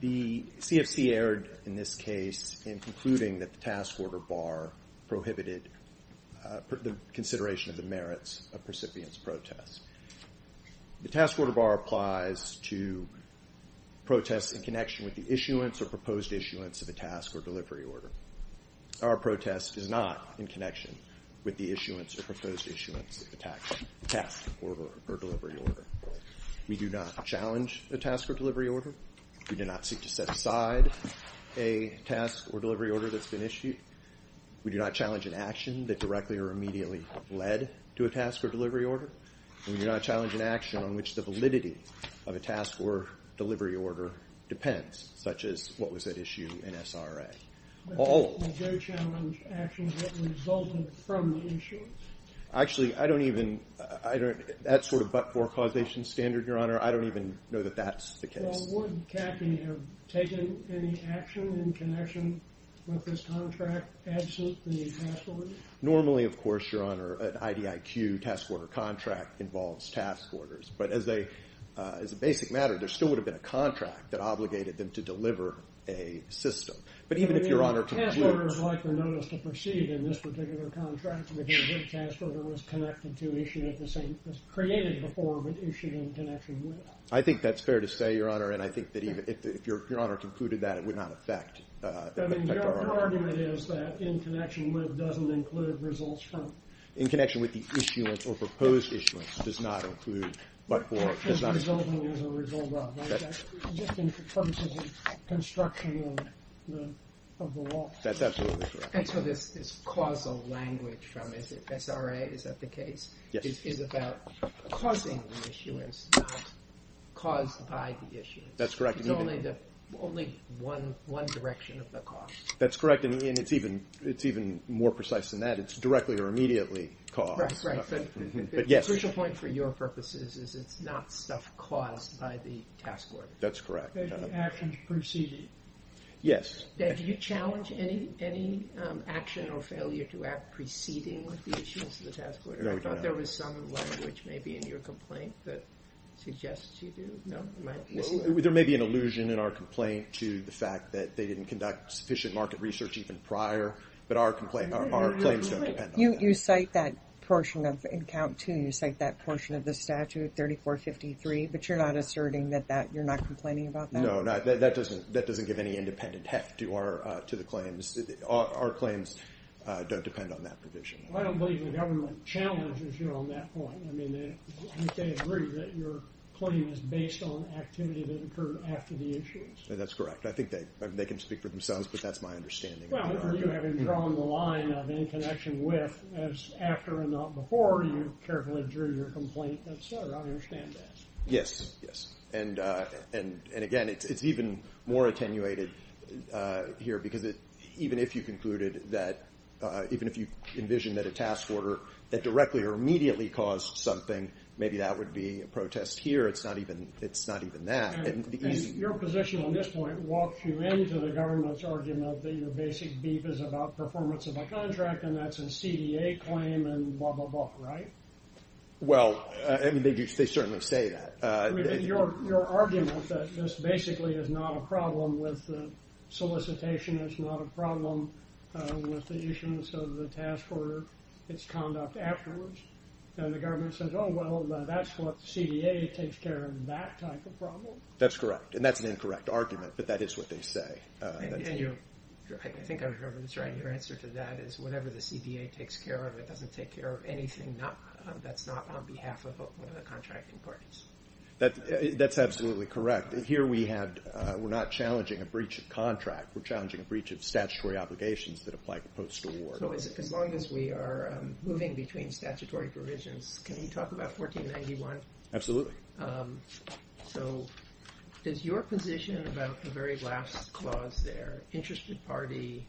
The CFC erred in this case in concluding that the Task Order Bar prohibited the consideration of the merits of precipitous protests. The Task Order Bar applies to protests in connection with the issuance or proposed issuance of a task or delivery order. Our protest is not in connection with the issuance or proposed issuance of a task order or delivery order. We do not challenge a task or delivery order, we do not seek to set aside a task or delivery order that's been issued, we do not challenge an action that directly or immediately led to a task or delivery order, and we do not challenge an action on which the validity of a task or delivery order depends, such as what was at issue in SRA. But you do challenge actions that resulted from the issuance? Actually I don't even, that's sort of but-for causation standard, Your Honor, I don't even know that that's the case. Well, would CAFI have taken any action in connection with this contract absent the task order? Normally, of course, Your Honor, an IDIQ task order contract involves task orders, but as a basic matter, there still would have been a contract that obligated them to deliver a system. But even if Your Honor concluded... I mean, a task order is like the notice to proceed in this particular contract, because a good task order was created before but issued in connection with. I think that's fair to say, Your Honor, and I think that even if Your Honor concluded that it would not affect our argument. I mean, your argument is that in connection with doesn't include results from? In connection with the issuance or proposed issuance, does not include but-for, does not include. As a result of, right? Just in terms of the construction of the law. That's absolutely correct. And so this causal language from SRA, is that the case? Yes. Is about causing the issuance, not caused by the issuance. That's correct. It's only one direction of the cause. It's directly or immediately caused by the issuance. Right, right. But the crucial point for your purposes is it's not stuff caused by the task order. That's correct. Actions preceding. Yes. Do you challenge any action or failure to act preceding the issuance of the task order? No, we do not. I thought there was some language maybe in your complaint that suggests you do. No? There may be an allusion in our complaint to the fact that they didn't conduct sufficient market research even prior. But our complaint, our claims don't depend on that. You cite that portion of, in count two, you cite that portion of the statute, 3453. But you're not asserting that that, you're not complaining about that? No, that doesn't give any independent heft to the claims. Our claims don't depend on that provision. I don't believe the government challenges you on that point. I mean, you can't agree that your claim is based on activity that occurred after the issuance. That's correct. I think they can speak for themselves, but that's my understanding. Well, are you having drawn the line of in connection with as after and not before you carefully drew your complaint? I understand that. Yes, yes. And again, it's even more attenuated here because even if you concluded that, even if you envisioned that a task order that directly or immediately caused something, maybe that would be a protest here. It's not even that. Your position on this point walks you into the government's argument that your basic beef is about performance of a contract and that's a CDA claim and blah, blah, blah, right? Well, I mean, they certainly say that. Your argument that this basically is not a problem with the solicitation is not a problem with the issuance of the task order, its conduct afterwards. And the government says, oh, well, that's what CDA takes care of that type of problem? That's correct. And that's an incorrect argument, but that is what they say. I think I remember this right. Your answer to that is whatever the CDA takes care of, it doesn't take care of anything that's not on behalf of one of the contracting parties. That's absolutely correct. Here we're not challenging a breach of contract. We're challenging a breach of statutory obligations that apply to post-award. So as long as we are moving between statutory provisions, can we talk about 1491? Absolutely. So is your position about the very last clause there, interested party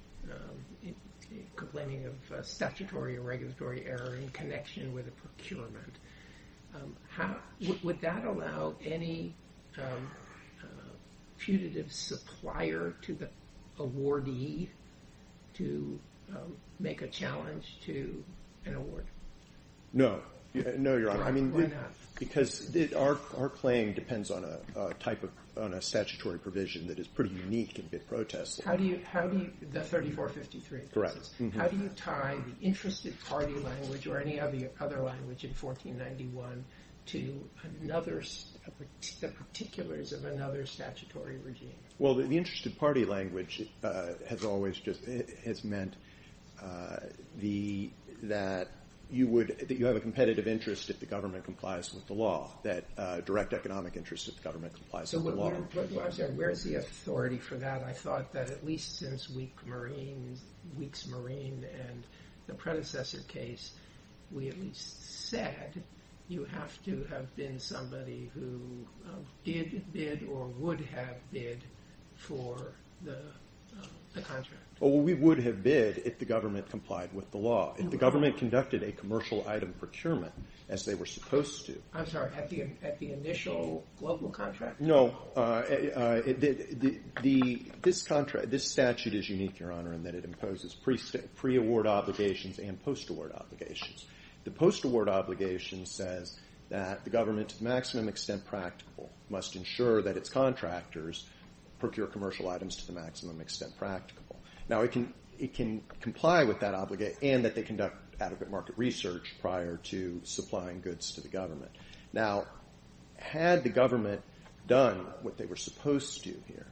complaining of statutory or regulatory error in connection with a procurement, would that allow any putative supplier to awardee to make a challenge to an award? No. No, you're right. Why not? Because our claim depends on a type of statutory provision that is pretty unique in bid protest. The 3453. Correct. How do you tie the interested party language or any other language in 1491 to the particulars of another statutory regime? Well, the interested party language has always just meant that you have a competitive interest if the government complies with the law, that direct economic interest if the government complies with the law. So where's the authority for that? I thought that at least since Weeks Marine and the predecessor case, we at least said that you have to have been somebody who did bid or would have bid for the contract. Well, we would have bid if the government complied with the law. If the government conducted a commercial item procurement as they were supposed to. I'm sorry, at the initial local contract? No. This statute is unique, Your Honor, in that it imposes pre-award obligations and post-award obligations. The post-award obligation says that the government, to the maximum extent practical, must ensure that its contractors procure commercial items to the maximum extent practical. Now, it can comply with that obligation and that they conduct adequate market research prior to supplying goods to the government. Now, had the government done what they were supposed to do here,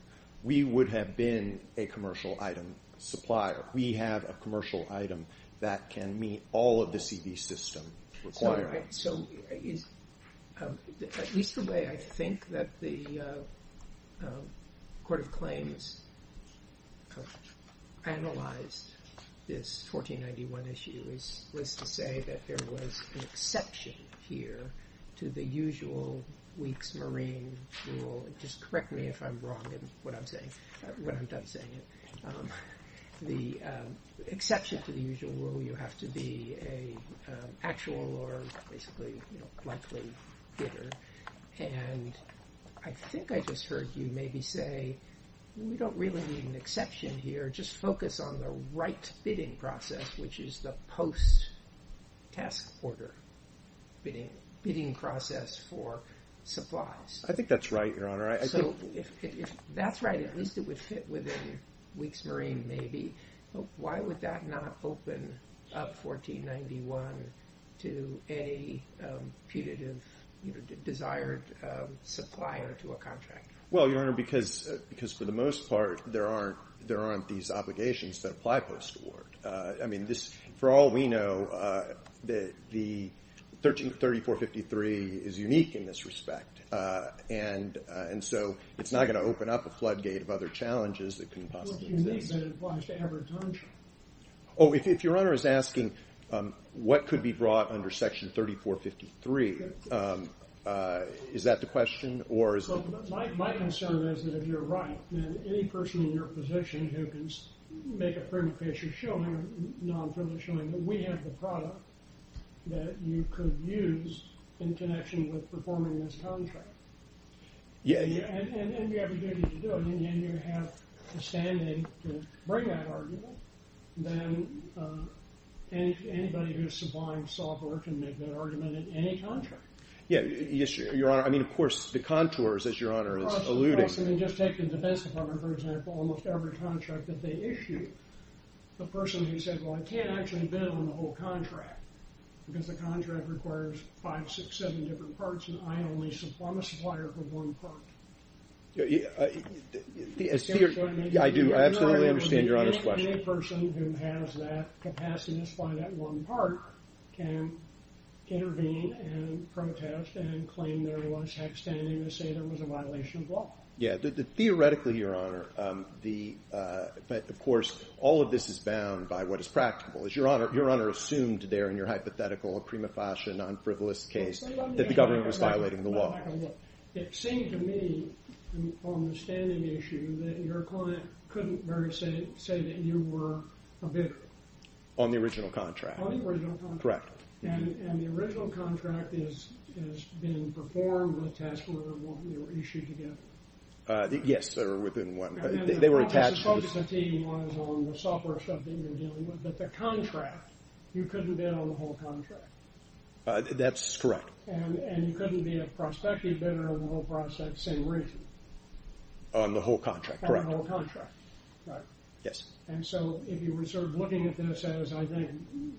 we would have been a commercial item supplier. We have a commercial item that can meet all of the CD system requirements. All right, so at least the way I think that the Court of Claims analyzed this 1491 issue was to say that there was an exception here to the usual Weeks Marine rule. Just correct me if I'm wrong in what I'm saying, when I'm done saying it. The exception to the usual rule, you have to be an actual or basically likely bidder. And I think I just heard you maybe say, we don't really need an exception here. Just focus on the right bidding process, which is the post-task order bidding process for supplies. I think that's right, Your Honor. So if that's right, at least it would fit within Weeks Marine maybe. Why would that not open up 1491 to any putative desired supplier to a contractor? Well, Your Honor, because for the most part, there aren't these obligations that apply post-award. I mean, for all we know, the 3453 is unique in this respect. And so it's not going to open up a floodgate of other challenges that could possibly exist. What do you mean that it applies to every contractor? Oh, if Your Honor is asking what could be brought under Section 3453, is that the question? My concern is that if you're right, then any person in your position who can make a privilege case or show non-privilege showing that we have the product that you could use in connection with performing this contract, and you have the duty to do it, and you have the standing to bring that argument, then anybody who is supplying software can make that argument in any contract. Yes, Your Honor. I mean, of course, the contours, as Your Honor is alluding. Just take the Defense Department, for example. Almost every contract that they issue, the person who said, well, I can't actually bid on the whole contract because the contract requires five, six, seven different parts, and I'm a supplier for one part. I do absolutely understand Your Honor's question. Any person who has that capacity to supply that one part can intervene and protest and claim there was outstanding to say there was a violation of law. Yeah. Theoretically, Your Honor, of course, all of this is bound by what is practical. As Your Honor assumed there in your hypothetical prima facie non-frivolous case that the government was violating the law. It seemed to me on the standing issue that your client couldn't very say that you were a victim. On the original contract. On the original contract. Correct. And the original contract is being performed on a task order that you issued together. Yes. They were within one. They were attached. I suppose the team was on the software stuff that you were dealing with. But the contract, you couldn't bid on the whole contract. That's correct. And you couldn't be a prospective bidder on the whole process, same reason. On the whole contract. Correct. On the whole contract. Right. Yes. And so if you were sort of looking at this as, I think,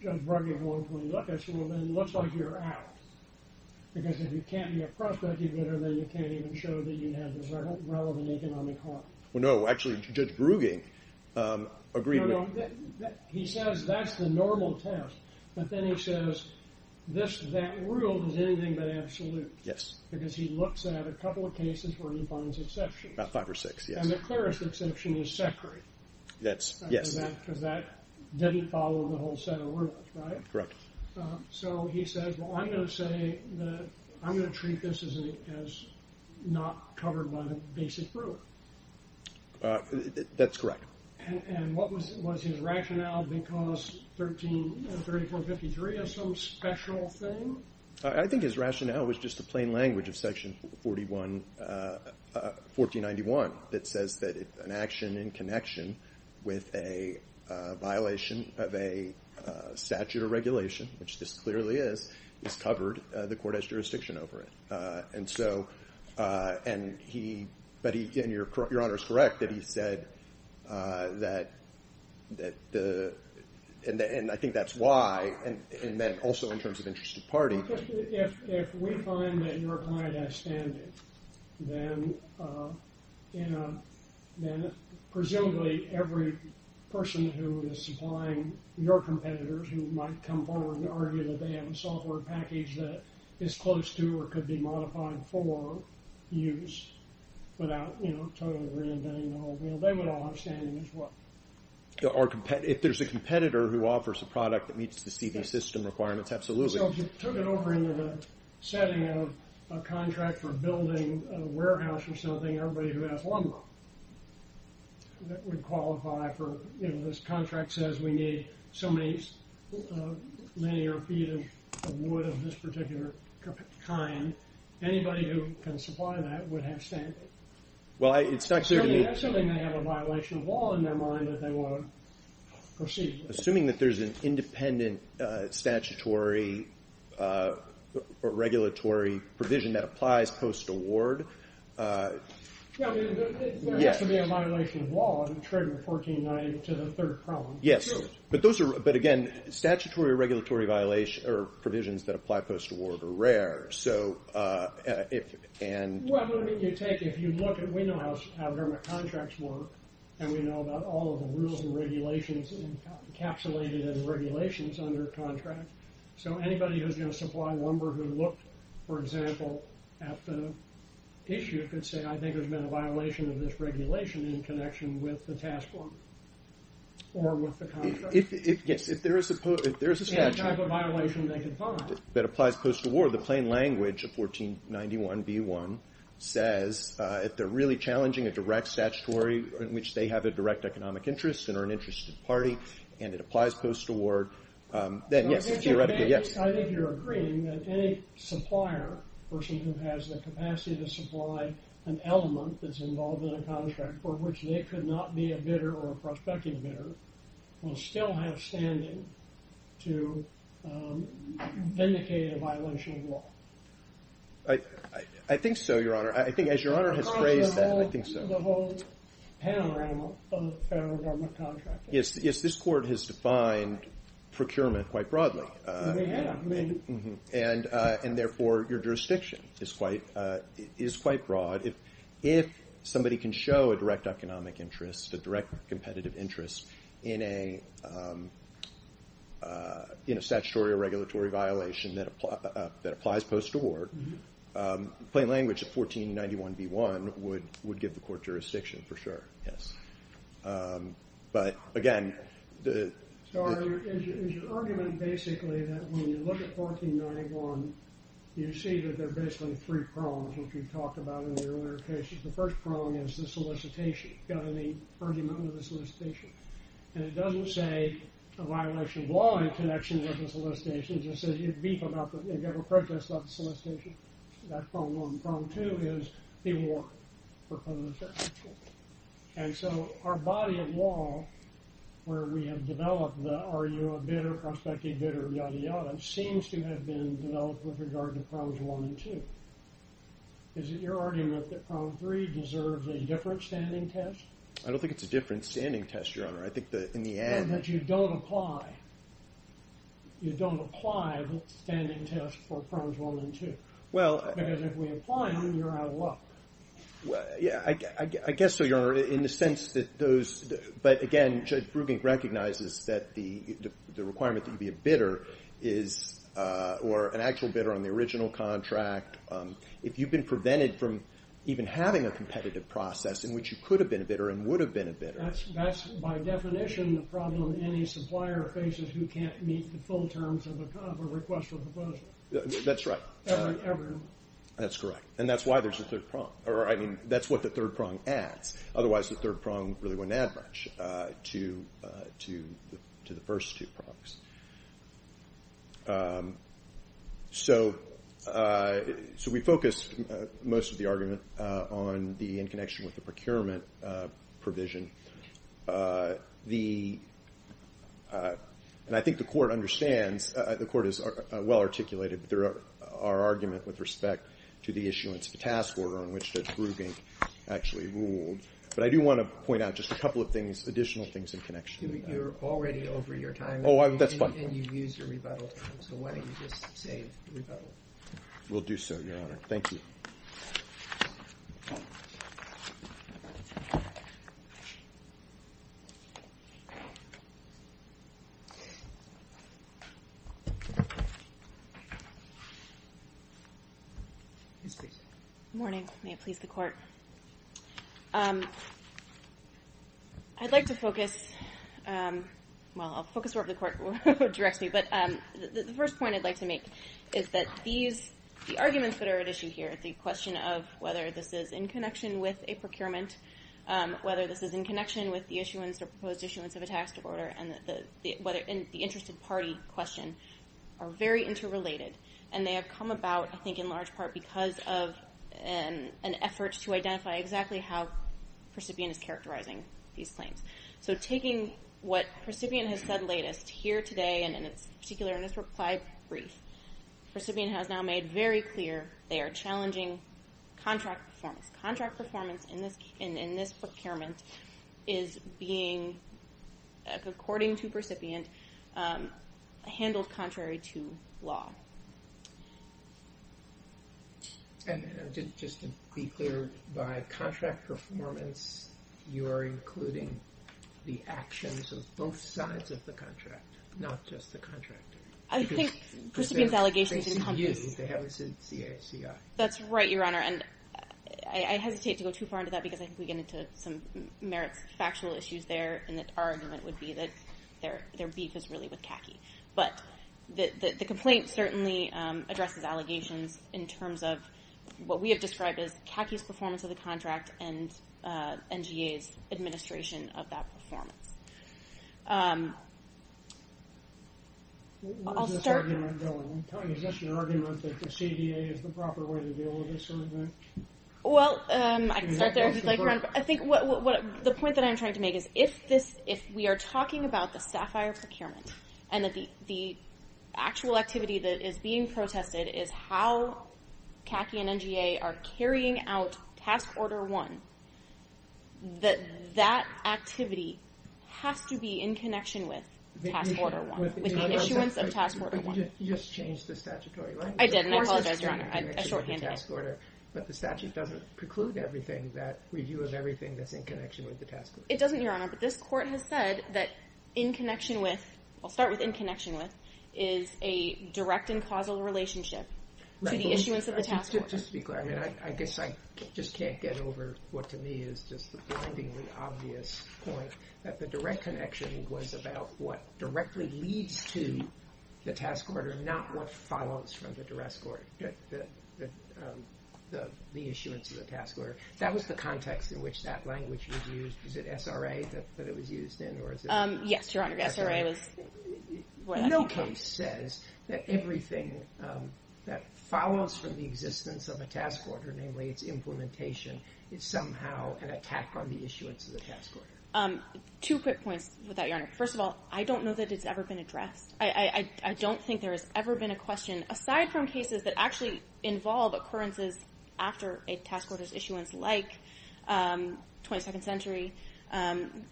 Judge Bruggen won't want to look at you, then it looks like you're out. Because if you can't be a prospective bidder, then you can't even show that you have a relevant economic heart. Well, no. Actually, Judge Bruggen agreed with me. He says that's the normal test. But then he says that rule is anything but absolute. Yes. Because he looks at a couple of cases where he finds exceptions. About five or six, yes. And the clearest exception is Secury. Yes. Because that didn't follow the whole set of rules, right? Correct. So he says, well, I'm going to say that I'm going to treat this as not covered by the basic rule. That's correct. And what was his rationale? Because 133453 is some special thing? I think his rationale was just the plain language of Section 1491 that says that an action in connection with a violation of a statute or regulation, which this clearly is, is covered. The court has jurisdiction over it. But your Honor is correct that he said that. And I think that's why. And then also in terms of interest of party. If we find that your client has standing, then presumably every person who is supplying your competitors who might come forward and argue that they have a software package that is close to or could be modified for use without, you know, totally reinventing the wheel, they would all have standing as well. If there's a competitor who offers a product that meets the CD system requirements, absolutely. So if you took it over into the setting of a contract for building a warehouse or something, everybody who has lumber that would qualify for, you know, this contract says we need so many linear feet of wood of this particular kind. Anybody who can supply that would have standing. Well, it's not clear to me. Assuming they have a violation of law in their mind that they want to proceed with. Assuming that there's an independent statutory or regulatory provision that applies post-award. There has to be a violation of law to trigger 1490 to the third problem. Yes. But those are, but again, statutory or regulatory violations or provisions that apply post-award are rare. Well, I mean, you take, if you look at, we know how government contracts work and we know about all of the rules and regulations encapsulated in regulations under contract. So anybody who's going to supply lumber who looked, for example, at the issue could say, I think there's been a violation of this regulation in connection with the task force or with the contract. Yes. If there is a statute. Any type of violation they could find. That applies post-award. The plain language of 1491b1 says if they're really challenging a direct statutory in which they have a direct economic interest and are an interested party and it applies post-award. Then yes. Theoretically, yes. I think you're agreeing that any supplier person who has the capacity to supply an element that's involved in a contract for which they could not be a bidder or a prospective bidder will still have standing to vindicate a violation of law. I think so, Your Honor. I think as Your Honor has phrased that, I think so. Across the whole panorama of federal government contracting. Yes, this court has defined procurement quite broadly. They have. And therefore, your jurisdiction is quite broad. If somebody can show a direct economic interest, a direct competitive interest in a statutory or regulatory violation that applies post-award, plain language of 1491b1 would give the court jurisdiction for sure. Yes. But again. So is your argument basically that when you look at 1491, you see that there are basically three prongs, which we talked about in the earlier cases. The first prong is the solicitation. You've got an argument under the solicitation. And it doesn't say a violation of law in connection with the solicitation. It just says you have a protest about the solicitation. That's prong one. Prong two is the award proposed. And so our body of law where we have developed the are you a bidder, prospective bidder, yada, yada, seems to have been developed with regard to prongs one and two. Is it your argument that prong three deserves a different standing test? I don't think it's a different standing test, Your Honor. I think that in the end. That you don't apply. You don't apply the standing test for prongs one and two. Because if we apply them, you're out of luck. Yeah, I guess so, Your Honor, in the sense that those. But again, Judge Brugink recognizes that the requirement that you be a bidder is or an actual bidder on the original contract. If you've been prevented from even having a competitive process in which you could have been a bidder and would have been a bidder. That's by definition the problem any supplier faces who can't meet the full terms of a request for proposal. That's right. Ever. That's correct. And that's why there's a third prong. Or, I mean, that's what the third prong adds. Otherwise, the third prong really wouldn't add much to the first two prongs. So we focused most of the argument on the in connection with the procurement provision. And I think the court understands. The court is well articulated. But our argument with respect to the issuance of a task order in which Judge Brugink actually ruled. But I do want to point out just a couple of things, additional things in connection. You're already over your time. Oh, that's fine. And you've used your rebuttal time. So why don't you just say rebuttal? Will do so, Your Honor. Thank you. Yes, please. Good morning. May it please the court. I'd like to focus. Well, I'll focus wherever the court directs me. But the first point I'd like to make is that these arguments that are at issue here, the question of whether this is in connection with a procurement, whether this is in connection with the issuance or proposed issuance of a task order, and the interest of party question are very interrelated. And they have come about, I think, in large part because of an effort to identify exactly how Percipient is characterizing these claims. So taking what Percipient has said latest here today, and in particular in this reply brief, Percipient has now made very clear they are challenging contract performance. And this procurement is being, according to Percipient, handled contrary to law. And just to be clear, by contract performance, you are including the actions of both sides of the contract, not just the contractor. I think Percipient's allegations encompass. They see you. They haven't seen CACI. That's right, Your Honor. And I hesitate to go too far into that because I think we get into some merits factual issues there and that our argument would be that their beef is really with CACI. But the complaint certainly addresses allegations in terms of what we have described as CACI's performance of the contract and NGA's administration of that performance. Where is this argument going? Is this an argument that the CDA is the proper way to deal with this sort of thing? Well, I can start there if you'd like, Your Honor. I think the point that I'm trying to make is if we are talking about the SAFIRE procurement and the actual activity that is being protested is how CACI and NGA are carrying out Task Order 1, that that activity has to be in connection with Task Order 1, with the issuance of Task Order 1. You just changed the statutory language. I did, and I apologize, Your Honor. I shorthanded it. But the statute doesn't preclude everything, that review of everything that's in connection with the task order. It doesn't, Your Honor. But this court has said that in connection with, I'll start with in connection with, is a direct and causal relationship to the issuance of the task order. Just to be clear, I guess I just can't get over what to me is just the blindingly obvious point that the direct connection was about what directly leads to the task order, not what follows from the issuance of the task order. That was the context in which that language was used. Was it SRA that it was used in? Yes, Your Honor. SRA was what happened. No case says that everything that follows from the existence of a task order, namely its implementation, is somehow an attack on the issuance of the task order. Two quick points with that, Your Honor. First of all, I don't know that it's ever been addressed. I don't think there has ever been a question, aside from cases that actually involve occurrences after a task order's issuance, like 22nd Century,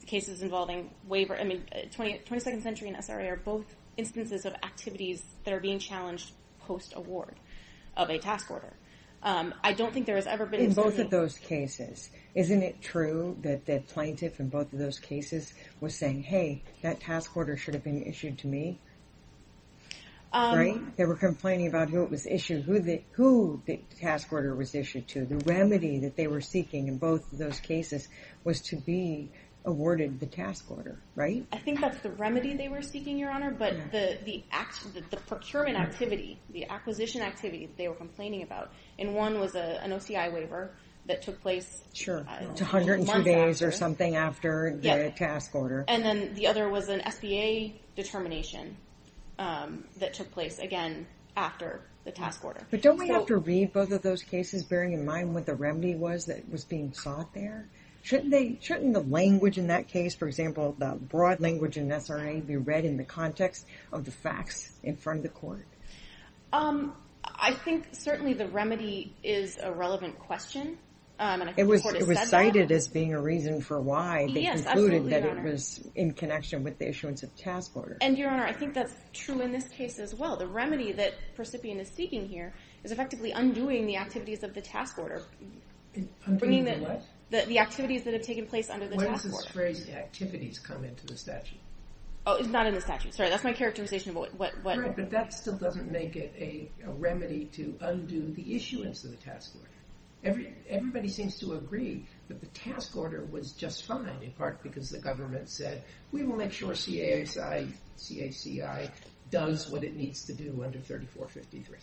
cases involving waiver. I mean, 22nd Century and SRA are both instances of activities that are being challenged post-award of a task order. In both of those cases, isn't it true that the plaintiff in both of those cases was saying, hey, that task order should have been issued to me, right? They were complaining about who it was issued to, who the task order was issued to. The remedy that they were seeking in both of those cases was to be awarded the task order, right? I think that's the remedy they were seeking, Your Honor, but the procurement activity, the acquisition activity they were complaining about, and one was an OCI waiver that took place a month after. Sure, 102 days or something after the task order. And then the other was an SBA determination that took place, again, after the task order. But don't we have to read both of those cases, bearing in mind what the remedy was that was being sought there? Shouldn't the language in that case, for example, the broad language in SRA, be read in the context of the facts in front of the court? I think certainly the remedy is a relevant question, and I think the court has said that. It was cited as being a reason for why they concluded that it was in connection with the issuance of the task order. And, Your Honor, I think that's true in this case as well. The remedy that the recipient is seeking here is effectively undoing the activities of the task order. Undoing the what? The activities that have taken place under the task order. When does this phrase, activities, come into the statute? Oh, it's not in the statute. Sorry, that's my characterization of what... Correct, but that still doesn't make it a remedy to undo the issuance of the task order. Everybody seems to agree that the task order was just fine, in part because the government said, we will make sure CASI, CHCI does what it needs to do under 3453.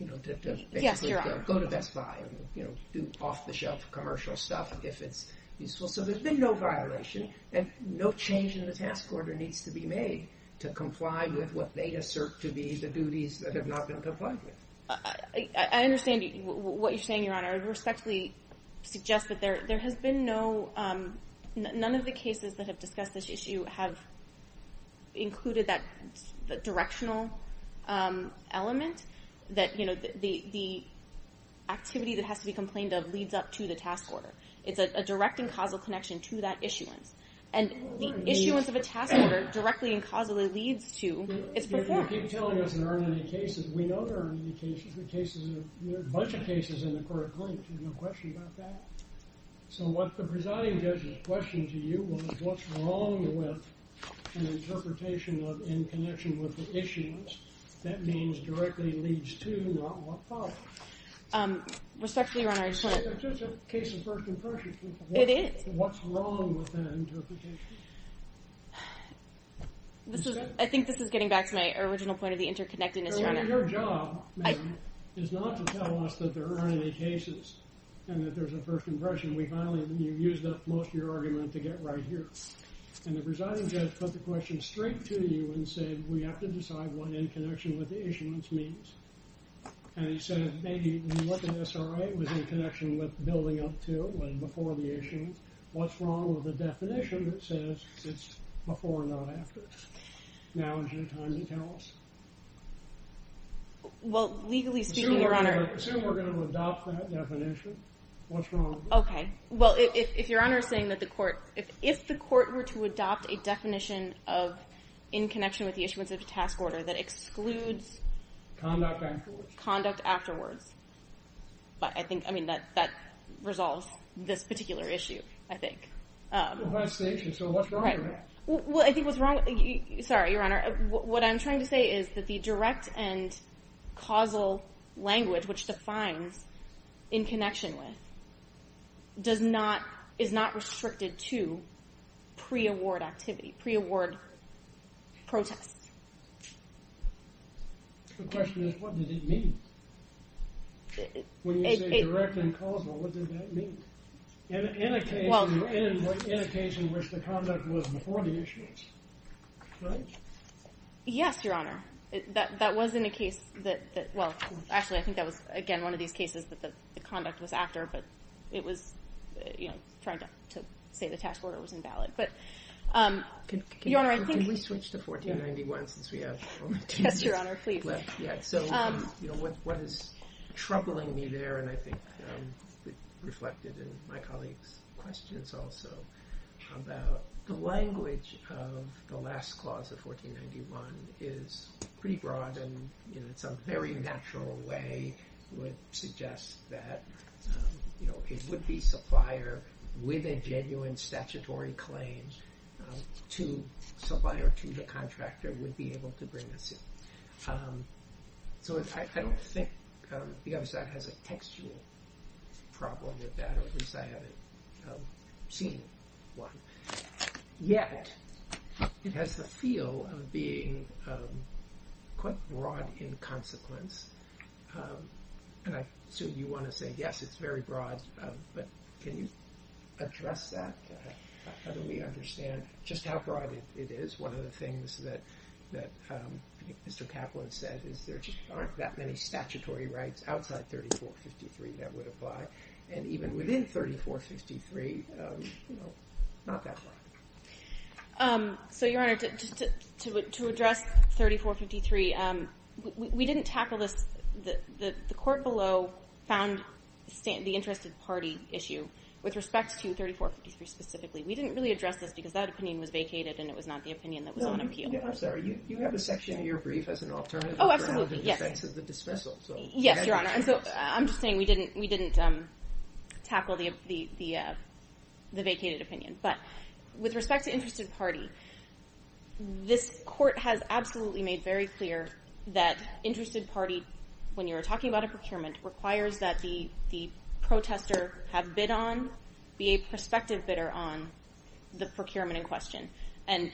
You know, to basically go to Best Buy, you know, do off-the-shelf commercial stuff if it's useful. So there's been no violation, and no change in the task order needs to be made to comply with what they assert to be the duties that have not been complied with. I understand what you're saying, Your Honor. I respectfully suggest that there has been no... None of the cases that have discussed this issue have included that directional element that, you know, the activity that has to be complained of leads up to the task order. It's a direct and causal connection to that issuance. And the issuance of a task order directly and causally leads to its performance. You keep telling us there aren't any cases. We know there aren't any cases. There are a bunch of cases in the court of claims. There's no question about that. So what the presiding judge's question to you was, what's wrong with an interpretation in connection with the issuance that means directly leads to, not what follows? Respectfully, Your Honor, I just want to... It's just a case of first impression. It is. What's wrong with that interpretation? I think this is getting back to my original point of the interconnectedness, Your Honor. Your job, ma'am, is not to tell us that there aren't any cases and that there's a first impression. You used up most of your argument to get right here. And the presiding judge put the question straight to you and said, we have to decide what in connection with the issuance means. And he said, maybe when you look at SRA, it was in connection with building up to and before the issuance. What's wrong with a definition that says it's before and not after? Now is your time to tell us. Well, legally speaking, Your Honor... Assume we're going to adopt that definition. What's wrong? Okay. Well, if Your Honor is saying that the court... If the court were to adopt a definition in connection with the issuance of a task order that excludes... Conduct afterwards. Conduct afterwards. But I think, I mean, that resolves this particular issue, I think. So what's wrong with that? Well, I think what's wrong... Sorry, Your Honor. What I'm trying to say is that the direct and causal language, which defines in connection with, does not... is not restricted to pre-award activity, pre-award protests. The question is, what did it mean? When you say direct and causal, what did that mean? In a case in which the conduct was before the issuance, right? Yes, Your Honor. That was in a case that... Well, actually, I think that was, again, one of these cases that the conduct was after, but it was, you know, trying to say the task order was invalid. But, Your Honor, I think... Yes, Your Honor, please. So, you know, what is troubling me there, and I think reflected in my colleague's questions also, about the language of the last clause of 1491 is pretty broad and in some very natural way would suggest that it would be supplier with a genuine statutory claim to supplier to the contractor would be able to bring a suit. So I don't think the other side has a textual problem with that, or at least I haven't seen one. Yet, it has the feel of being quite broad in consequence, and I assume you want to say, yes, it's very broad, but can you address that? How do we understand just how broad it is? One of the things that Mr. Kaplan said is there just aren't that many statutory rights outside 3453 that would apply, and even within 3453, you know, not that broad. So, Your Honor, to address 3453, we didn't tackle this. The court below found the interested party issue with respect to 3453 specifically. We didn't really address this because that opinion was vacated and it was not the opinion that was on appeal. I'm sorry, you have a section in your brief as an alternative. Oh, absolutely, yes. The grounds of defense is the dismissal. Yes, Your Honor, and so I'm just saying we didn't tackle the vacated opinion. But with respect to interested party, this court has absolutely made very clear that interested party, when you're talking about a procurement, requires that the protester have bid on, be a prospective bidder on the procurement in question. And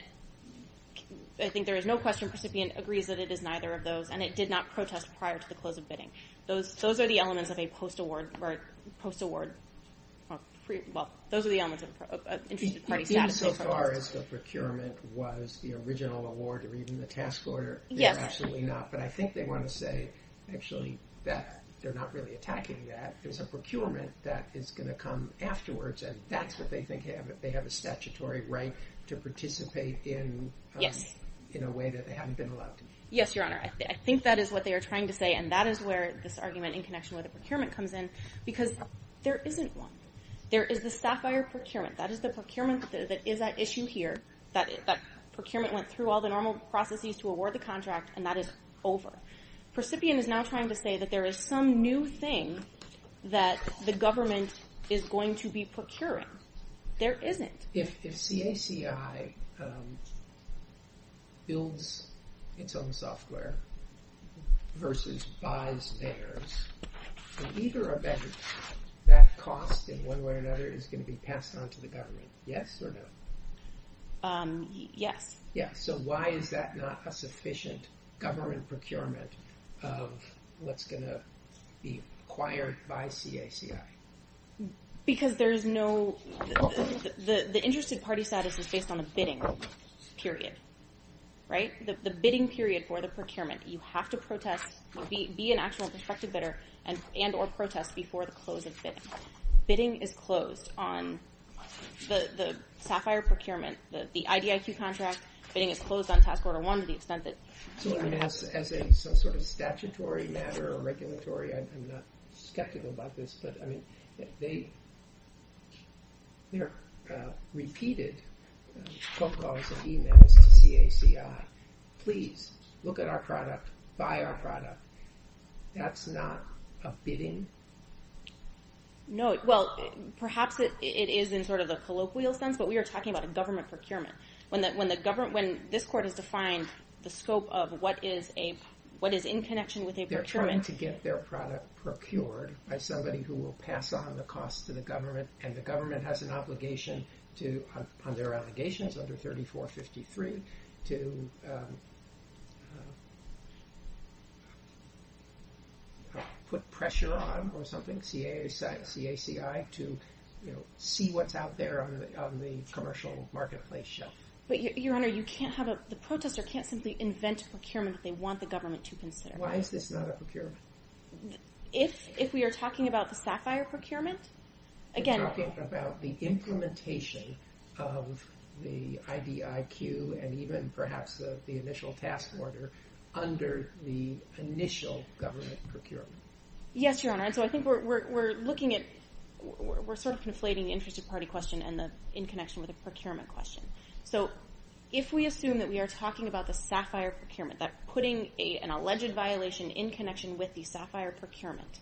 I think there is no question the recipient agrees that it is neither of those, and it did not protest prior to the close of bidding. Those are the elements of a post-award, or post-award, well, those are the elements of an interested party statute. So far as the procurement was the original award or even the task order, they're absolutely not. But I think they want to say, actually, that they're not really attacking that. It's a procurement that is going to come afterwards, and that's what they think they have. They have a statutory right to participate in a way that they haven't been allowed to. Yes, Your Honor, I think that is what they are trying to say, and that is where this argument in connection with the procurement comes in, because there isn't one. There is the Sapphire procurement. That is the procurement that is at issue here. That procurement went through all the normal processes to award the contract, and that is over. The recipient is now trying to say that there is some new thing that the government is going to be procuring. There isn't. If CACI builds its own software versus buys theirs, then either or better, that cost, in one way or another, is going to be passed on to the government. Yes or no? Yes. Yes. So why is that not a sufficient government procurement of what's going to be acquired by CACI? Because there is no – the interested party status is based on a bidding period, right? The bidding period for the procurement. You have to protest, be an actual prospective bidder, and or protest before the close of bidding. Bidding is closed on the Sapphire procurement, the IDIQ contract. Bidding is closed on Task Order 1 to the extent that – So as a sort of statutory matter or regulatory, I'm not skeptical about this, but, I mean, they're repeated phone calls and emails to CACI. Please, look at our product, buy our product. That's not a bidding? No. Well, perhaps it is in sort of the colloquial sense, but we are talking about a government procurement. When this court has defined the scope of what is in connection with a procurement – They're trying to get their product procured by somebody who will pass on the cost to the government, and the government has an obligation to, on their allegations under 3453, to put pressure on or something, CACI, to see what's out there on the commercial marketplace shelf. But, Your Honor, you can't have a – the protester can't simply invent a procurement that they want the government to consider. Why is this not a procurement? If we are talking about the Sapphire procurement, again – We're talking about the implementation of the IDIQ and even perhaps the initial task order under the initial government procurement. Yes, Your Honor, and so I think we're looking at – we're sort of conflating the interested party question and the in connection with the procurement question. So, if we assume that we are talking about the Sapphire procurement, that putting an alleged violation in connection with the Sapphire procurement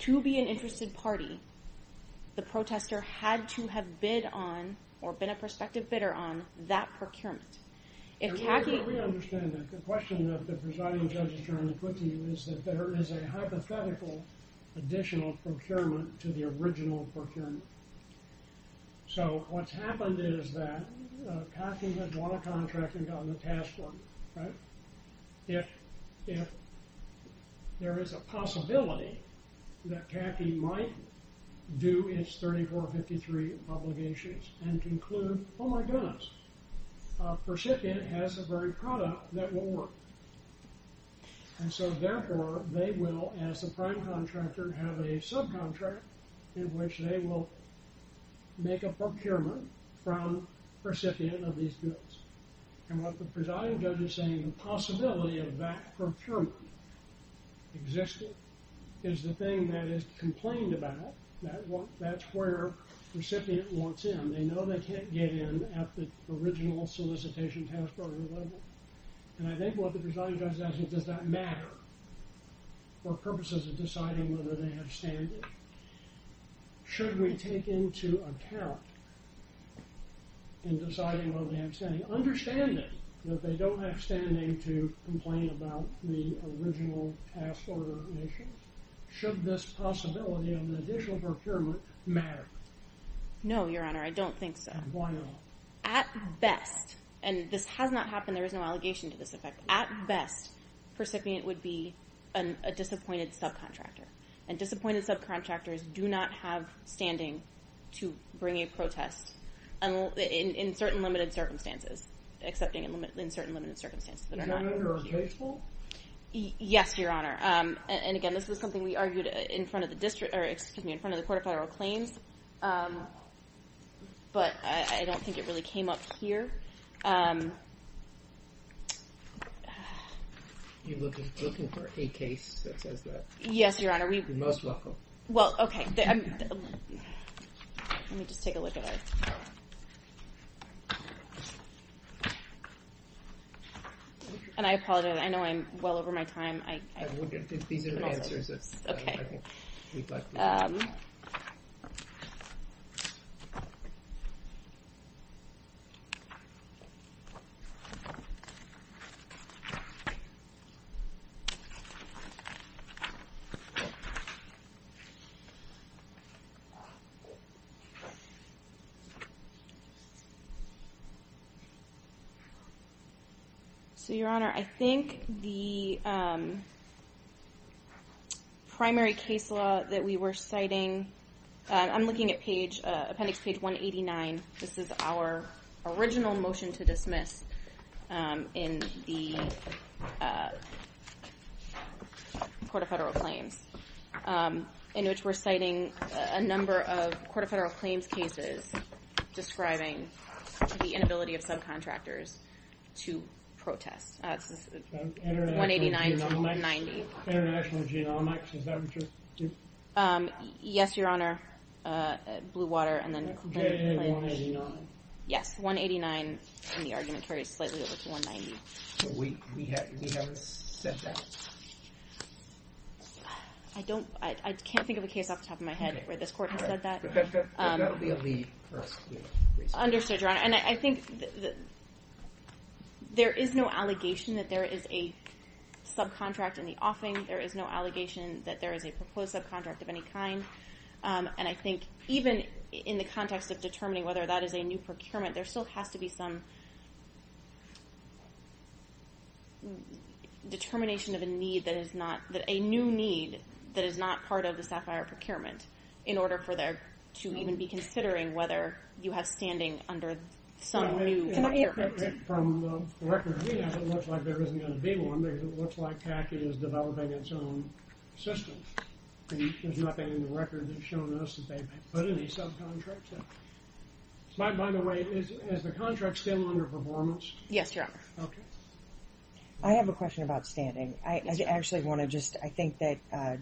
to be an interested party, the protester had to have bid on or been a prospective bidder on that procurement. If CACI – Your Honor, let me understand that. The question that the presiding judge has generally put to you is that there is a hypothetical additional procurement to the original procurement. So, what's happened is that CACI has won a contract and gotten a task order, right? If there is a possibility that CACI might do its 3453 obligations and conclude, oh my goodness, a recipient has a burned product that won't work. And so, therefore, they will, as a prime contractor, have a subcontract in which they will make a procurement from the recipient of these goods. And what the presiding judge is saying is the possibility of that procurement existing is the thing that is complained about. That's where the recipient wants in. They know they can't get in at the original solicitation task order level. And I think what the presiding judge is asking is does that matter for purposes of deciding whether they have standards? Should we take into account in deciding whether they have standards? And understanding that they don't have standing to complain about the original task order issue, should this possibility of an additional procurement matter? No, Your Honor, I don't think so. And why not? At best, and this has not happened, there is no allegation to this effect, at best, the recipient would be a disappointed subcontractor. And disappointed subcontractors do not have standing to bring a protest in certain limited circumstances. Accepting in certain limited circumstances. Is that under a case law? Yes, Your Honor. And again, this was something we argued in front of the court of federal claims. But I don't think it really came up here. You're looking for a case that says that? Yes, Your Honor. You're most welcome. Well, okay. Let me just take a look at it. And I apologize. I know I'm well over my time. These are the answers. Okay. So, Your Honor, I think the primary case law that we were citing, I'm looking at appendix page 189. This is our original motion to dismiss in the court of federal claims, in which we're citing a number of court of federal claims cases describing the inability of subcontractors to protest. 189 to 190. International Genomics, is that what you're... Yes, Your Honor. Blue Water and then... 189. Yes, 189. And the argument carries slightly over to 190. We haven't said that. I can't think of a case off the top of my head where this court has said that. That will be a lead for us. Understood, Your Honor. And I think there is no allegation that there is a subcontract in the offing. There is no allegation that there is a proposed subcontract of any kind. And I think even in the context of determining whether that is a new procurement, there still has to be some determination of a need that is not... a new need that is not part of the SAFIRE procurement in order for there to even be considering whether you have standing under some new... From the record we have, it looks like there isn't going to be one. It looks like PAC is developing its own system. There's nothing in the record that's shown us that they've put any subcontracts in. By the way, is the contract still under performance? Yes, Your Honor. Okay. I have a question about standing. I actually want to just... I think that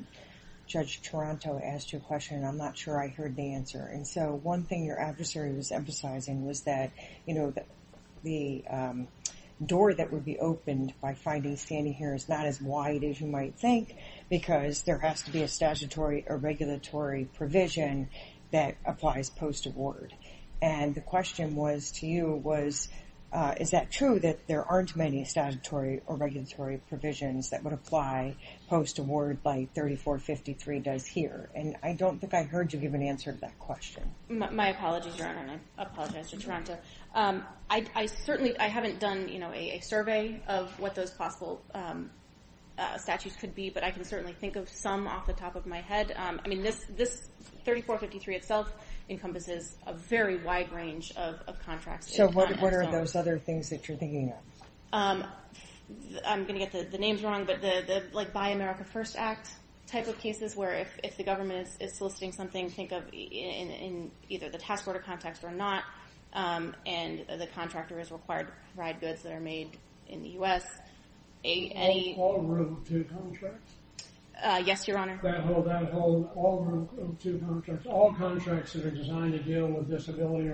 Judge Toronto asked you a question, and I'm not sure I heard the answer. And so one thing your adversary was emphasizing was that, you know, the door that would be opened by finding standing here is not as wide as you might think because there has to be a statutory or regulatory provision that applies post-award. And the question was to you was, is that true that there aren't many statutory or regulatory provisions that would apply post-award like 3453 does here? And I don't think I heard you give an answer to that question. My apologies, Your Honor, and I apologize to Toronto. I certainly haven't done, you know, a survey of what those possible statutes could be, but I can certainly think of some off the top of my head. I mean, this 3453 itself encompasses a very wide range of contracts. So what are those other things that you're thinking of? I'm going to get the names wrong, but the Buy America First Act type of cases where if the government is soliciting something, think of in either the task order context or not, and the contractor is required to provide goods that are made in the U.S. Any... All group 2 contracts? Yes, Your Honor. That holds all group 2 contracts. All contracts that are designed to deal with disability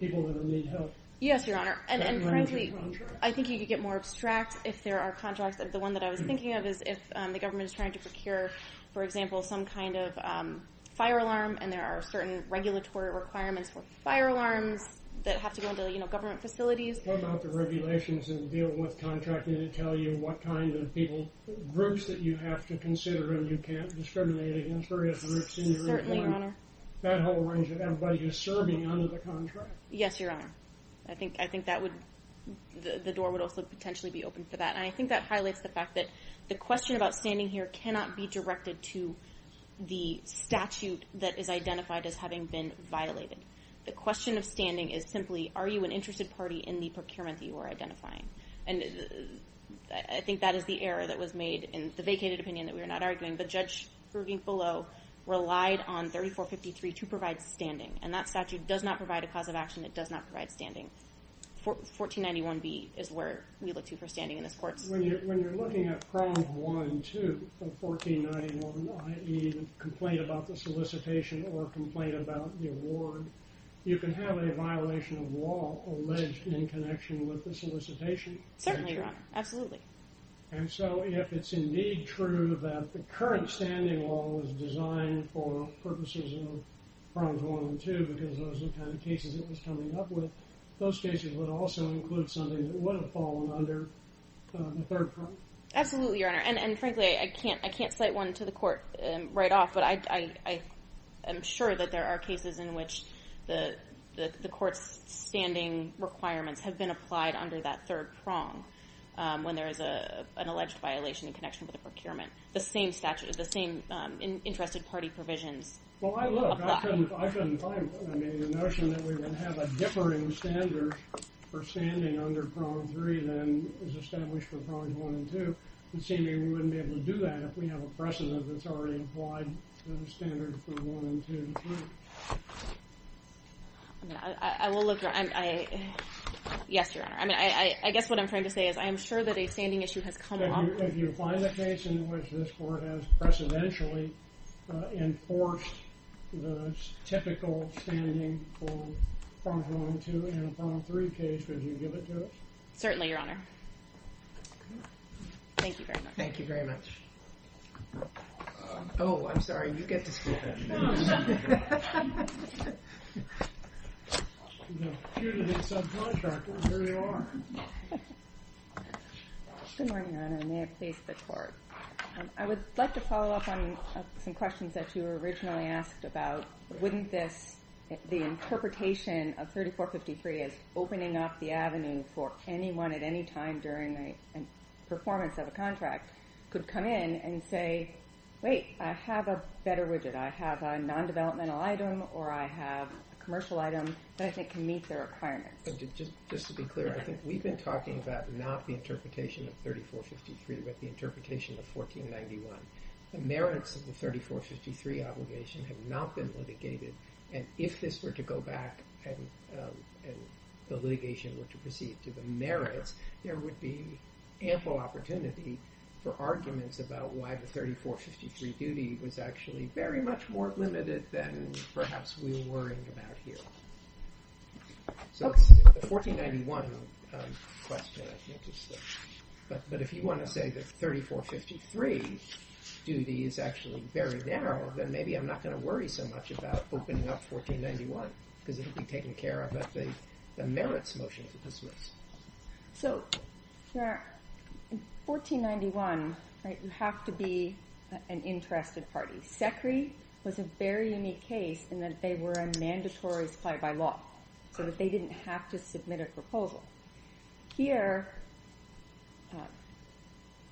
people that need help. Yes, Your Honor. And frankly, I think you could get more abstract if there are contracts. The one that I was thinking of is if the government is trying to procure, for example, some kind of fire alarm and there are certain regulatory requirements for fire alarms that have to go into, you know, government facilities. What about the regulations that deal with contracting that tell you what kind of people, groups that you have to consider and you can't discriminate against various groups in your employment? Certainly, Your Honor. That whole range of everybody who's serving under the contract. Yes, Your Honor. I think that would... The door would also potentially be open for that. And I think that highlights the fact that the question about standing here cannot be directed to the statute that is identified as having been violated. The question of standing is simply, are you an interested party in the procurement that you are identifying? And I think that is the error that was made in the vacated opinion that we are not arguing, but Judge Bruegge below relied on 3453 to provide standing. And that statute does not provide a cause of action. It does not provide standing. 1491B is where we look to for standing in this court. When you're looking at Problem 1-2 of 1491, i.e., the complaint about the solicitation or complaint about the award, you can have a violation of law alleged in connection with the solicitation. Certainly, Your Honor. Absolutely. And so if it's indeed true that the current standing law was designed for purposes of Problems 1 and 2 because those are the kind of cases it was coming up with, those cases would also include something that would have fallen under the third prong. Absolutely, Your Honor. And frankly, I can't cite one to the court right off, but I am sure that there are cases in which the court's standing requirements have been applied under that third prong when there is an alleged violation in connection with a procurement. The same statute, the same interested party provisions apply. Well, I look. I couldn't find one. I mean, the notion that we would have a differing standard for standing under Problem 3 than is established for Problems 1 and 2, it seems we wouldn't be able to do that if we have a precedent that's already applied to the standard for 1 and 2 and 3. I will look. Yes, Your Honor. I guess what I'm trying to say is I am sure that a standing issue has come up. If you find a case in which this court has precedentially enforced the typical standing for Problems 1 and 2 and Problem 3 case, would you give it to us? Certainly, Your Honor. Thank you very much. Thank you very much. Oh, I'm sorry. You get to skip it. No. Due to the subcontractor, here you are. Good morning, Your Honor, and may it please the Court. I would like to follow up on some questions that you were originally asked about. Wouldn't this, the interpretation of 3453 as opening up the avenue for anyone at any time during the performance of a contract, could come in and say, wait, I have a better widget. I have a non-developmental item or I have a commercial item that I think can meet their requirements. Just to be clear, I think we've been talking about not the interpretation of 3453, but the interpretation of 1491. The merits of the 3453 obligation have not been litigated, and if this were to go back and the litigation were to proceed to the merits, there would be ample opportunity for arguments about why the 3453 duty was actually very much more limited than perhaps we were worrying about here. So it's the 1491 question, I think. But if you want to say that 3453 duty is actually very narrow, then maybe I'm not going to worry so much about opening up 1491 because it will be taken care of at the merits motions at the Swiss. So in 1491, you have to be an interested party. SECRI was a very unique case in that they were a mandatory supplier by law, so that they didn't have to submit a proposal. Here, the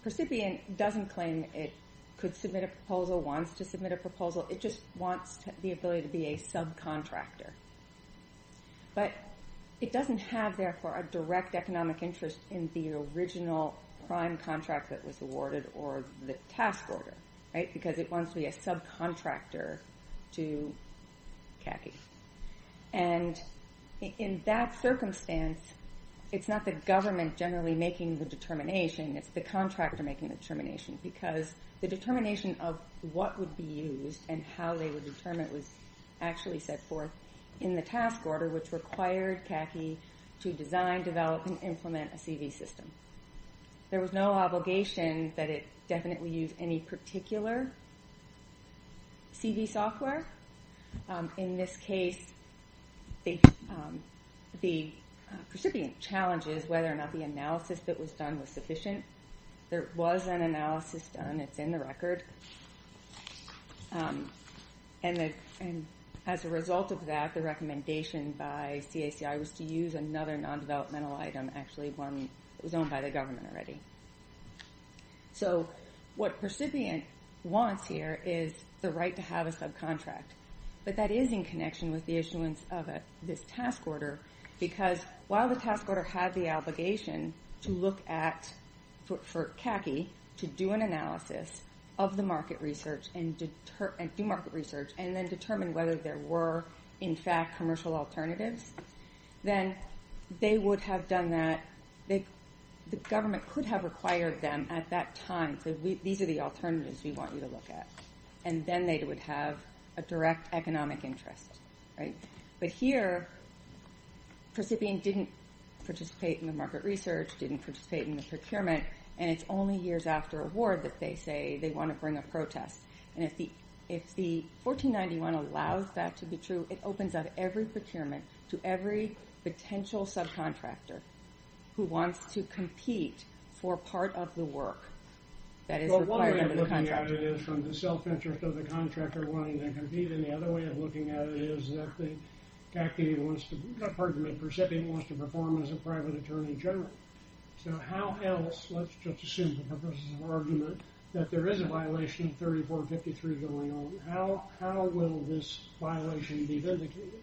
recipient doesn't claim it could submit a proposal, wants to submit a proposal. It just wants the ability to be a subcontractor. But it doesn't have, therefore, a direct economic interest in the original prime contract that was awarded or the task order because it wants to be a subcontractor to CACI. And in that circumstance, it's not the government generally making the determination. It's the contractor making the determination because the determination of what would be used and how they would determine it was actually set forth in the task order, which required CACI to design, develop, and implement a CV system. There was no obligation that it definitely use any particular CV software. In this case, the recipient challenges whether or not the analysis that was done was sufficient. There was an analysis done. It's in the record. And as a result of that, the recommendation by CACI was to use another non-developmental item, actually one that was owned by the government already. So what the recipient wants here is the right to have a subcontract, but that is in connection with the issuance of this task order because while the task order had the obligation to look at, for CACI, to do an analysis of the market research and do market research and then determine whether there were, in fact, commercial alternatives, then they would have done that. The government could have required them at that time. These are the alternatives we want you to look at. And then they would have a direct economic interest. But here, the recipient didn't participate in the market research, didn't participate in the procurement, and it's only years after award that they say they want to bring a protest. And if the 1491 allows that to be true, it opens up every procurement to every potential subcontractor who wants to compete for part of the work that is required of the contractor. One way of looking at it is from the self-interest of the contractor wanting to compete, and the other way of looking at it is that the recipient wants to perform as a private attorney general. So how else, let's just assume for purposes of argument, that there is a violation of 3453 going on. How will this violation be vindicated?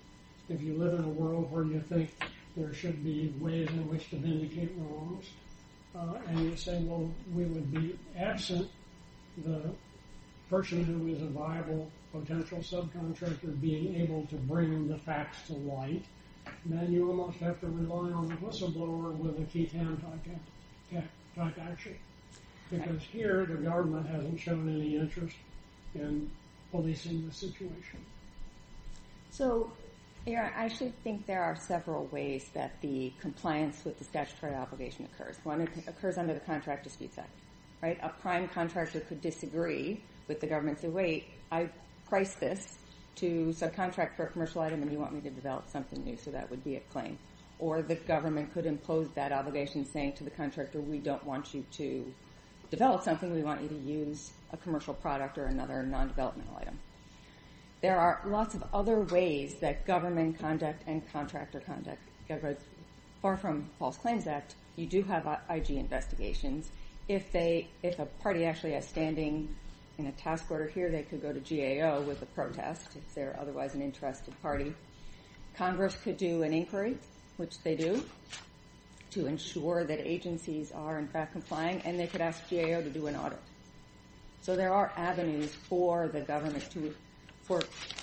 If you live in a world where you think there should be ways in which to vindicate wrongs, and you're saying, well, we would be absent the person who is a viable potential subcontractor being able to bring the facts to light, then you almost have to rely on the whistleblower with a keytab type action. Because here, the government hasn't shown any interest in policing the situation. So I should think there are several ways that the compliance with the statutory obligation occurs. One, it occurs under the contract dispute side. A prime contractor could disagree with the government, say, wait, I priced this to subcontract for a commercial item, and you want me to develop something new, so that would be a claim. Or the government could impose that obligation saying to the contractor, we don't want you to develop something, we want you to use a commercial product or another non-developmental item. There are lots of other ways that government conduct and contractor conduct. Far from false claims act, you do have IG investigations. If a party actually has standing in a task order here, they could go to GAO with a protest, if they're otherwise an interested party. Congress could do an inquiry, which they do, to ensure that agencies are, in fact, complying. And they could ask GAO to do an audit. So there are avenues for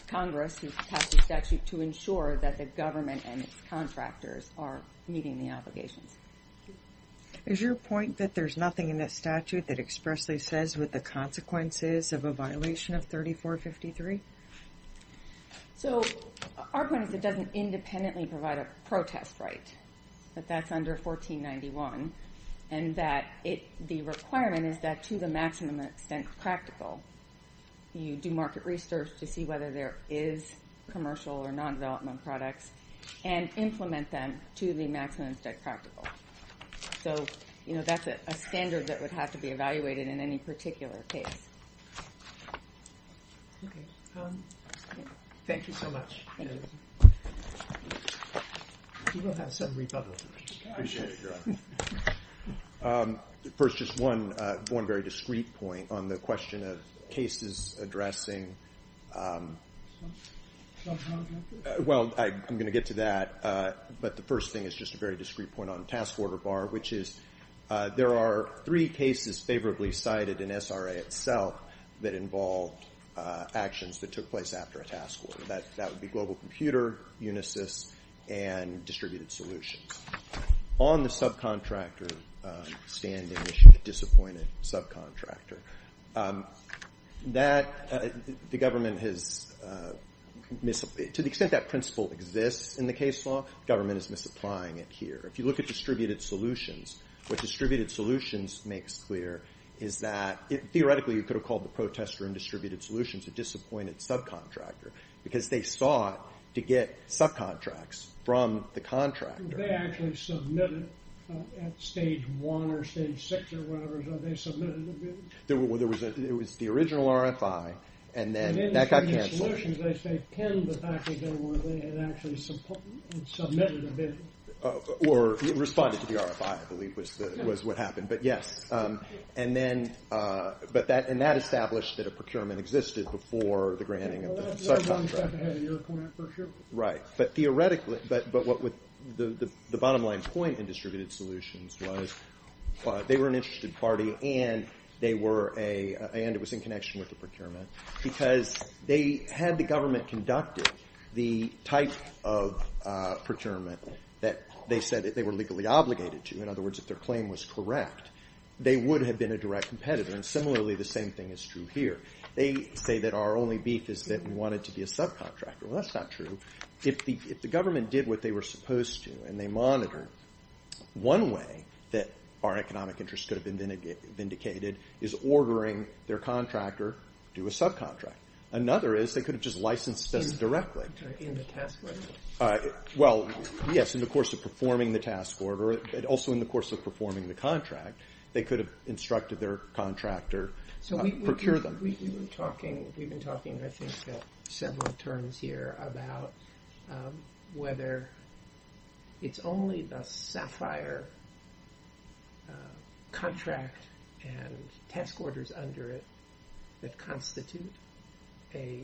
Congress to pass a statute to ensure that the government and its contractors are meeting the obligations. Is your point that there's nothing in that statute that expressly says what the consequences of a violation of 3453? So our point is it doesn't independently provide a protest right, but that's under 1491. And the requirement is that to the maximum extent practical, you do market research to see whether there is commercial or non-development products and implement them to the maximum extent practical. So that's a standard that would have to be evaluated in any particular case. Thank you so much. Thank you. We will have some rebuttals. First, just one very discreet point on the question of cases addressing. Well, I'm going to get to that. But the first thing is just a very discreet point on the task order bar, which is there are three cases favorably cited in SRA itself that involved actions that took place after a task order. That would be Global Computer, Unisys, and Distributed Solutions. On the subcontractor standing issue, the disappointed subcontractor, to the extent that principle exists in the case law, the government is misapplying it here. If you look at Distributed Solutions, what Distributed Solutions makes clear is that, theoretically, you could have called the protester in Distributed Solutions a disappointed subcontractor because they sought to get subcontracts from the contractor. They actually submitted at stage one or stage six or whatever. They submitted a bid. It was the original RFI, and then that got canceled. In Distributed Solutions, they pinned the fact that they had actually submitted a bid. Or responded to the RFI, I believe, was what happened. But yes. And that established that a procurement existed before the granting of the subcontract. Right. But theoretically, the bottom line point in Distributed Solutions was they were an interested party and it was in connection with the procurement because they had the government conducted the type of procurement that they said that they were legally obligated to. In other words, if their claim was correct, they would have been a direct competitor. And similarly, the same thing is true here. They say that our only beef is that we wanted to be a subcontractor. Well, that's not true. If the government did what they were supposed to and they monitored, one way that our economic interests could have been vindicated is ordering their contractor to do a subcontract. Another is they could have just licensed us directly. In the task order. Well, yes. In the course of performing the task order, but also in the course of performing the contract, they could have instructed their contractor to procure them. We've been talking, I think, several terms here about whether it's only the SAFIRE contract and task orders under it that constitute a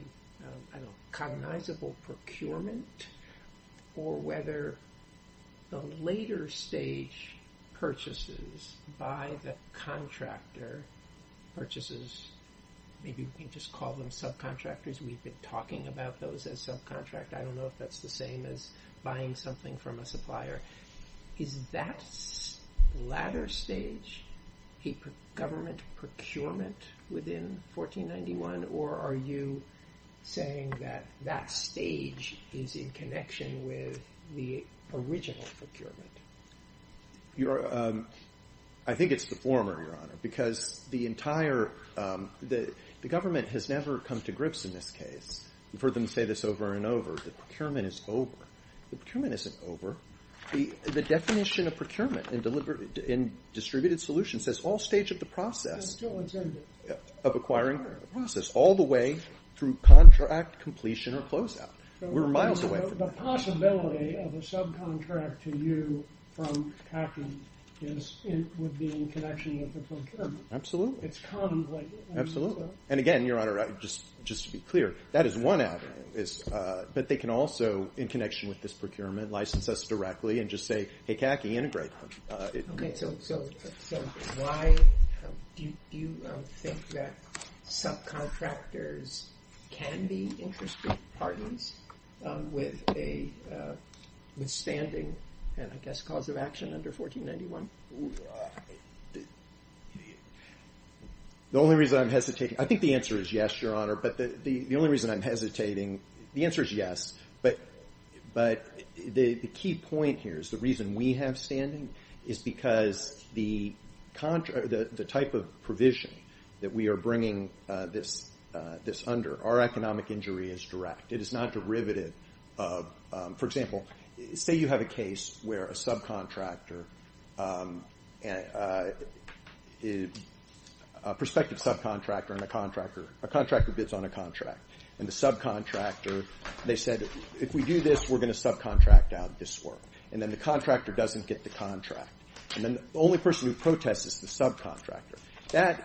cognizable procurement or whether the later stage purchases by the contractor purchases, maybe we just call them subcontractors. We've been talking about those as subcontract. I don't know if that's the same as buying something from a supplier. Is that latter stage a government procurement within 1491, or are you saying that that stage is in connection with the original procurement? I think it's the former, Your Honor, because the government has never come to grips in this case. We've heard them say this over and over. The procurement is over. The procurement isn't over. The definition of procurement in distributed solutions says all stage of the process of acquiring a process all the way through contract completion or closeout. We're miles away from that. The possibility of a subcontract to you from CAPI would be in connection with the procurement. Absolutely. It's contemplated. Absolutely. And again, Your Honor, just to be clear, that is one avenue. But they can also, in connection with this procurement, license us directly and just say, hey, CAPI, integrate them. Okay. So why do you think that subcontractors can be interested partners with a withstanding, and I guess, cause of action under 1491? The only reason I'm hesitating, I think the answer is yes, Your Honor, but the only reason I'm hesitating, the answer is yes, but the key point here is the reason we have standing is because the type of provision that we are bringing this under, our economic injury is direct. It is not derivative of, for example, say you have a case where a subcontractor, a prospective subcontractor and a contractor, a contractor bids on a contract, and the subcontractor, they said, if we do this, we're going to subcontract out this work. And then the contractor doesn't get the contract. And then the only person who protests is the subcontractor.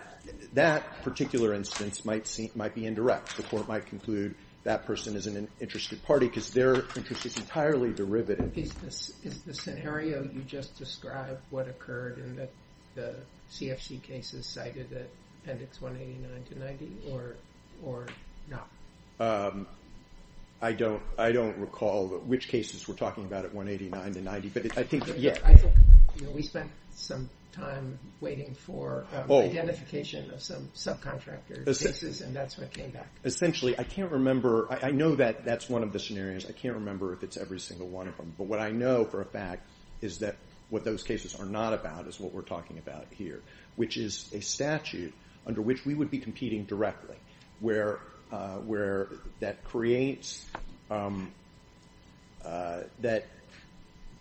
That particular instance might be indirect. The court might conclude that person is an interested party because their interest is entirely derivative. Is the scenario you just described what occurred in the CFC cases cited at appendix 189 to 90 or not? I don't recall which cases we're talking about at 189 to 90, but I think, yeah. We spent some time waiting for identification of some subcontractor cases, and that's when it came back. Essentially, I can't remember. I know that that's one of the scenarios. I can't remember if it's every single one of them. But what I know for a fact is that what those cases are not about is what we're talking about here, which is a statute under which we would be competing directly, where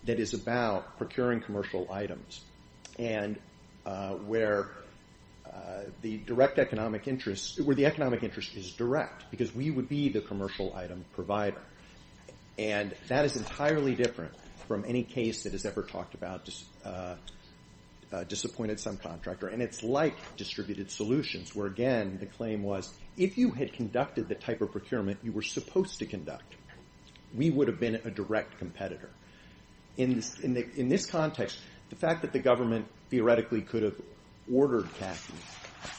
that is about procuring commercial items and where the economic interest is direct, because we would be the commercial item provider. And that is entirely different from any case that is ever talked about disappointed subcontractor. And it's like distributed solutions where, again, the claim was, if you had conducted the type of procurement you were supposed to conduct, we would have been a direct competitor. In this context, the fact that the government theoretically could have ordered CACI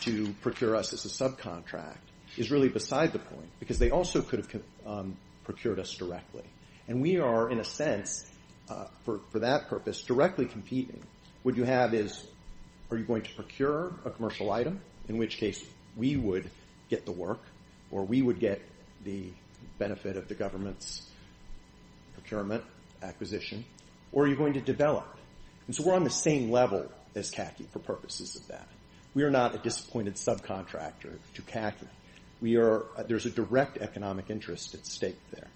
to procure us as a subcontract is really beside the point because they also could have procured us directly. And we are, in a sense, for that purpose, directly competing. What you have is, are you going to procure a commercial item, in which case we would get the work or we would get the benefit of the government's procurement, acquisition, or are you going to develop it? And so we're on the same level as CACI for purposes of that. We are not a disappointed subcontractor to CACI. There's a direct economic interest at stake there.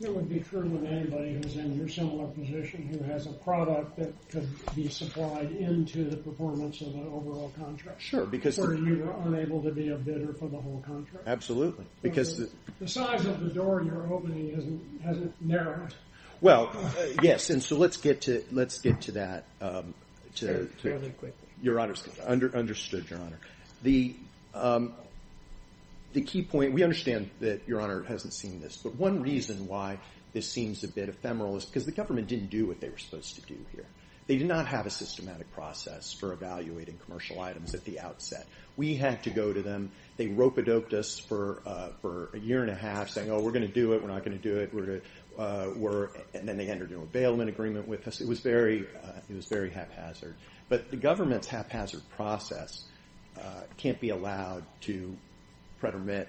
It would be true of anybody who's in your similar position, who has a product that could be supplied into the performance of an overall contract. Sure. Or you were unable to be a bidder for the whole contract. Absolutely. The size of the door you're opening hasn't narrowed. Well, yes. And so let's get to that. Fairly quickly. Understood, Your Honor. The key point, we understand that, Your Honor, it hasn't seen this, but one reason why this seems a bit ephemeral is because the government didn't do what they were supposed to do here. They did not have a systematic process for evaluating commercial items at the outset. We had to go to them. They rope-a-doped us for a year and a half saying, oh, we're going to do it, we're not going to do it, and then they entered into a bailment agreement with us. It was very haphazard. But the government's haphazard process can't be allowed to predomit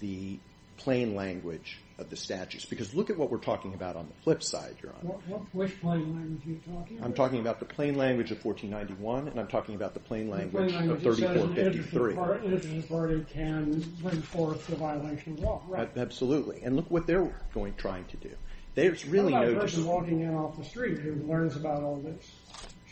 the plain language of the statutes. Because look at what we're talking about on the flip side, Your Honor. Which plain language are you talking about? I'm talking about the plain language of 1491 and I'm talking about the plain language of 3453. The plain language is that an interested party can bring forth the violation of law. Absolutely. And look what they're trying to do. How about a person walking in off the street who learns about all this?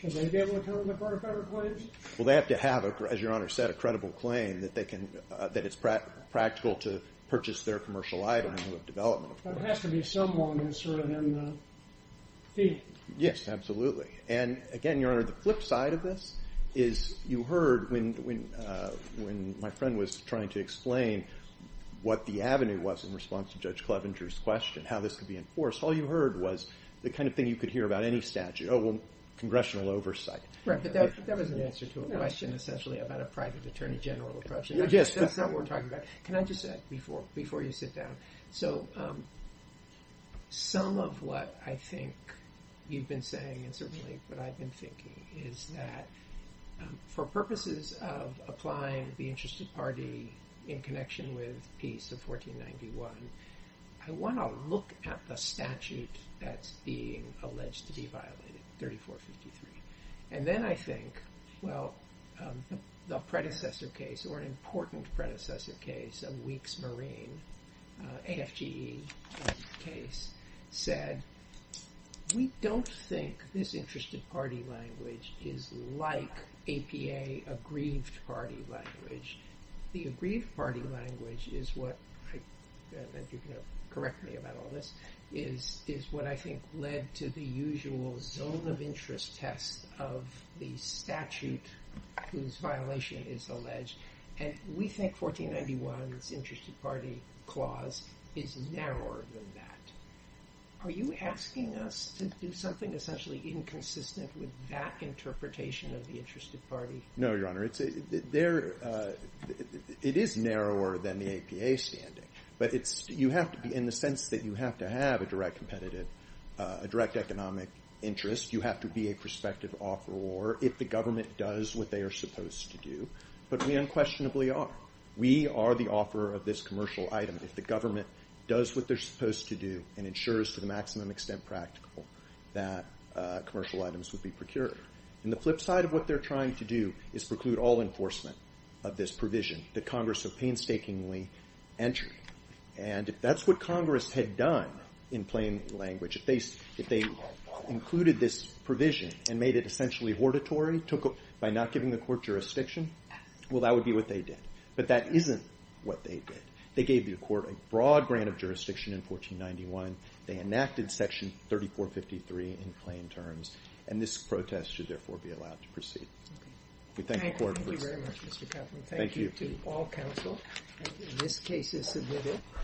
Should they be able to come to the court of federal claims? Well, they have to have, as Your Honor said, a credible claim that it's practical to purchase their commercial item and have development. But it has to be someone who's sort of in the heat. Yes, absolutely. And again, Your Honor, the flip side of this is you heard when my friend was trying to explain what the avenue was in response to Judge Clevenger's question, how this could be enforced, all you heard was the kind of thing you could hear about any statute. Oh, well, congressional oversight. Right, but that was an answer to a question essentially about a private attorney general approach. Yes. That's not what we're talking about. Can I just add before you sit down? So some of what I think you've been saying and certainly what I've been thinking is that for purposes of applying the interested party in connection with Peace of 1491, I want to look at the statute that's being alleged to be violated, 3453. And then I think, well, the predecessor case or an important predecessor case of Weeks Marine, AFGE case, said we don't think this interested party language is like APA aggrieved party language. The aggrieved party language is what – if you can correct me about all this – is what I think led to the usual zone of interest test of the statute whose violation is alleged. And we think 1491's interested party clause is narrower than that. Are you asking us to do something essentially inconsistent with that interpretation of the interested party? No, Your Honor. It is narrower than the APA standing. But you have to be – in the sense that you have to have a direct competitive – a direct economic interest, you have to be a prospective offeror if the government does what they are supposed to do. But we unquestionably are. We are the offeror of this commercial item if the government does what they're supposed to do and ensures to the maximum extent practical that commercial items would be procured. And the flip side of what they're trying to do is preclude all enforcement of this provision that Congress have painstakingly entered. And if that's what Congress had done in plain language, if they included this provision and made it essentially hortatory by not giving the court jurisdiction, well, that would be what they did. But that isn't what they did. They gave the court a broad grant of jurisdiction in 1491. They enacted Section 3453 in plain terms. And this protest should, therefore, be allowed to proceed. We thank the court for this. Thank you very much, Mr. Kaufman. Thank you. Thank you to all counsel. This case is submitted.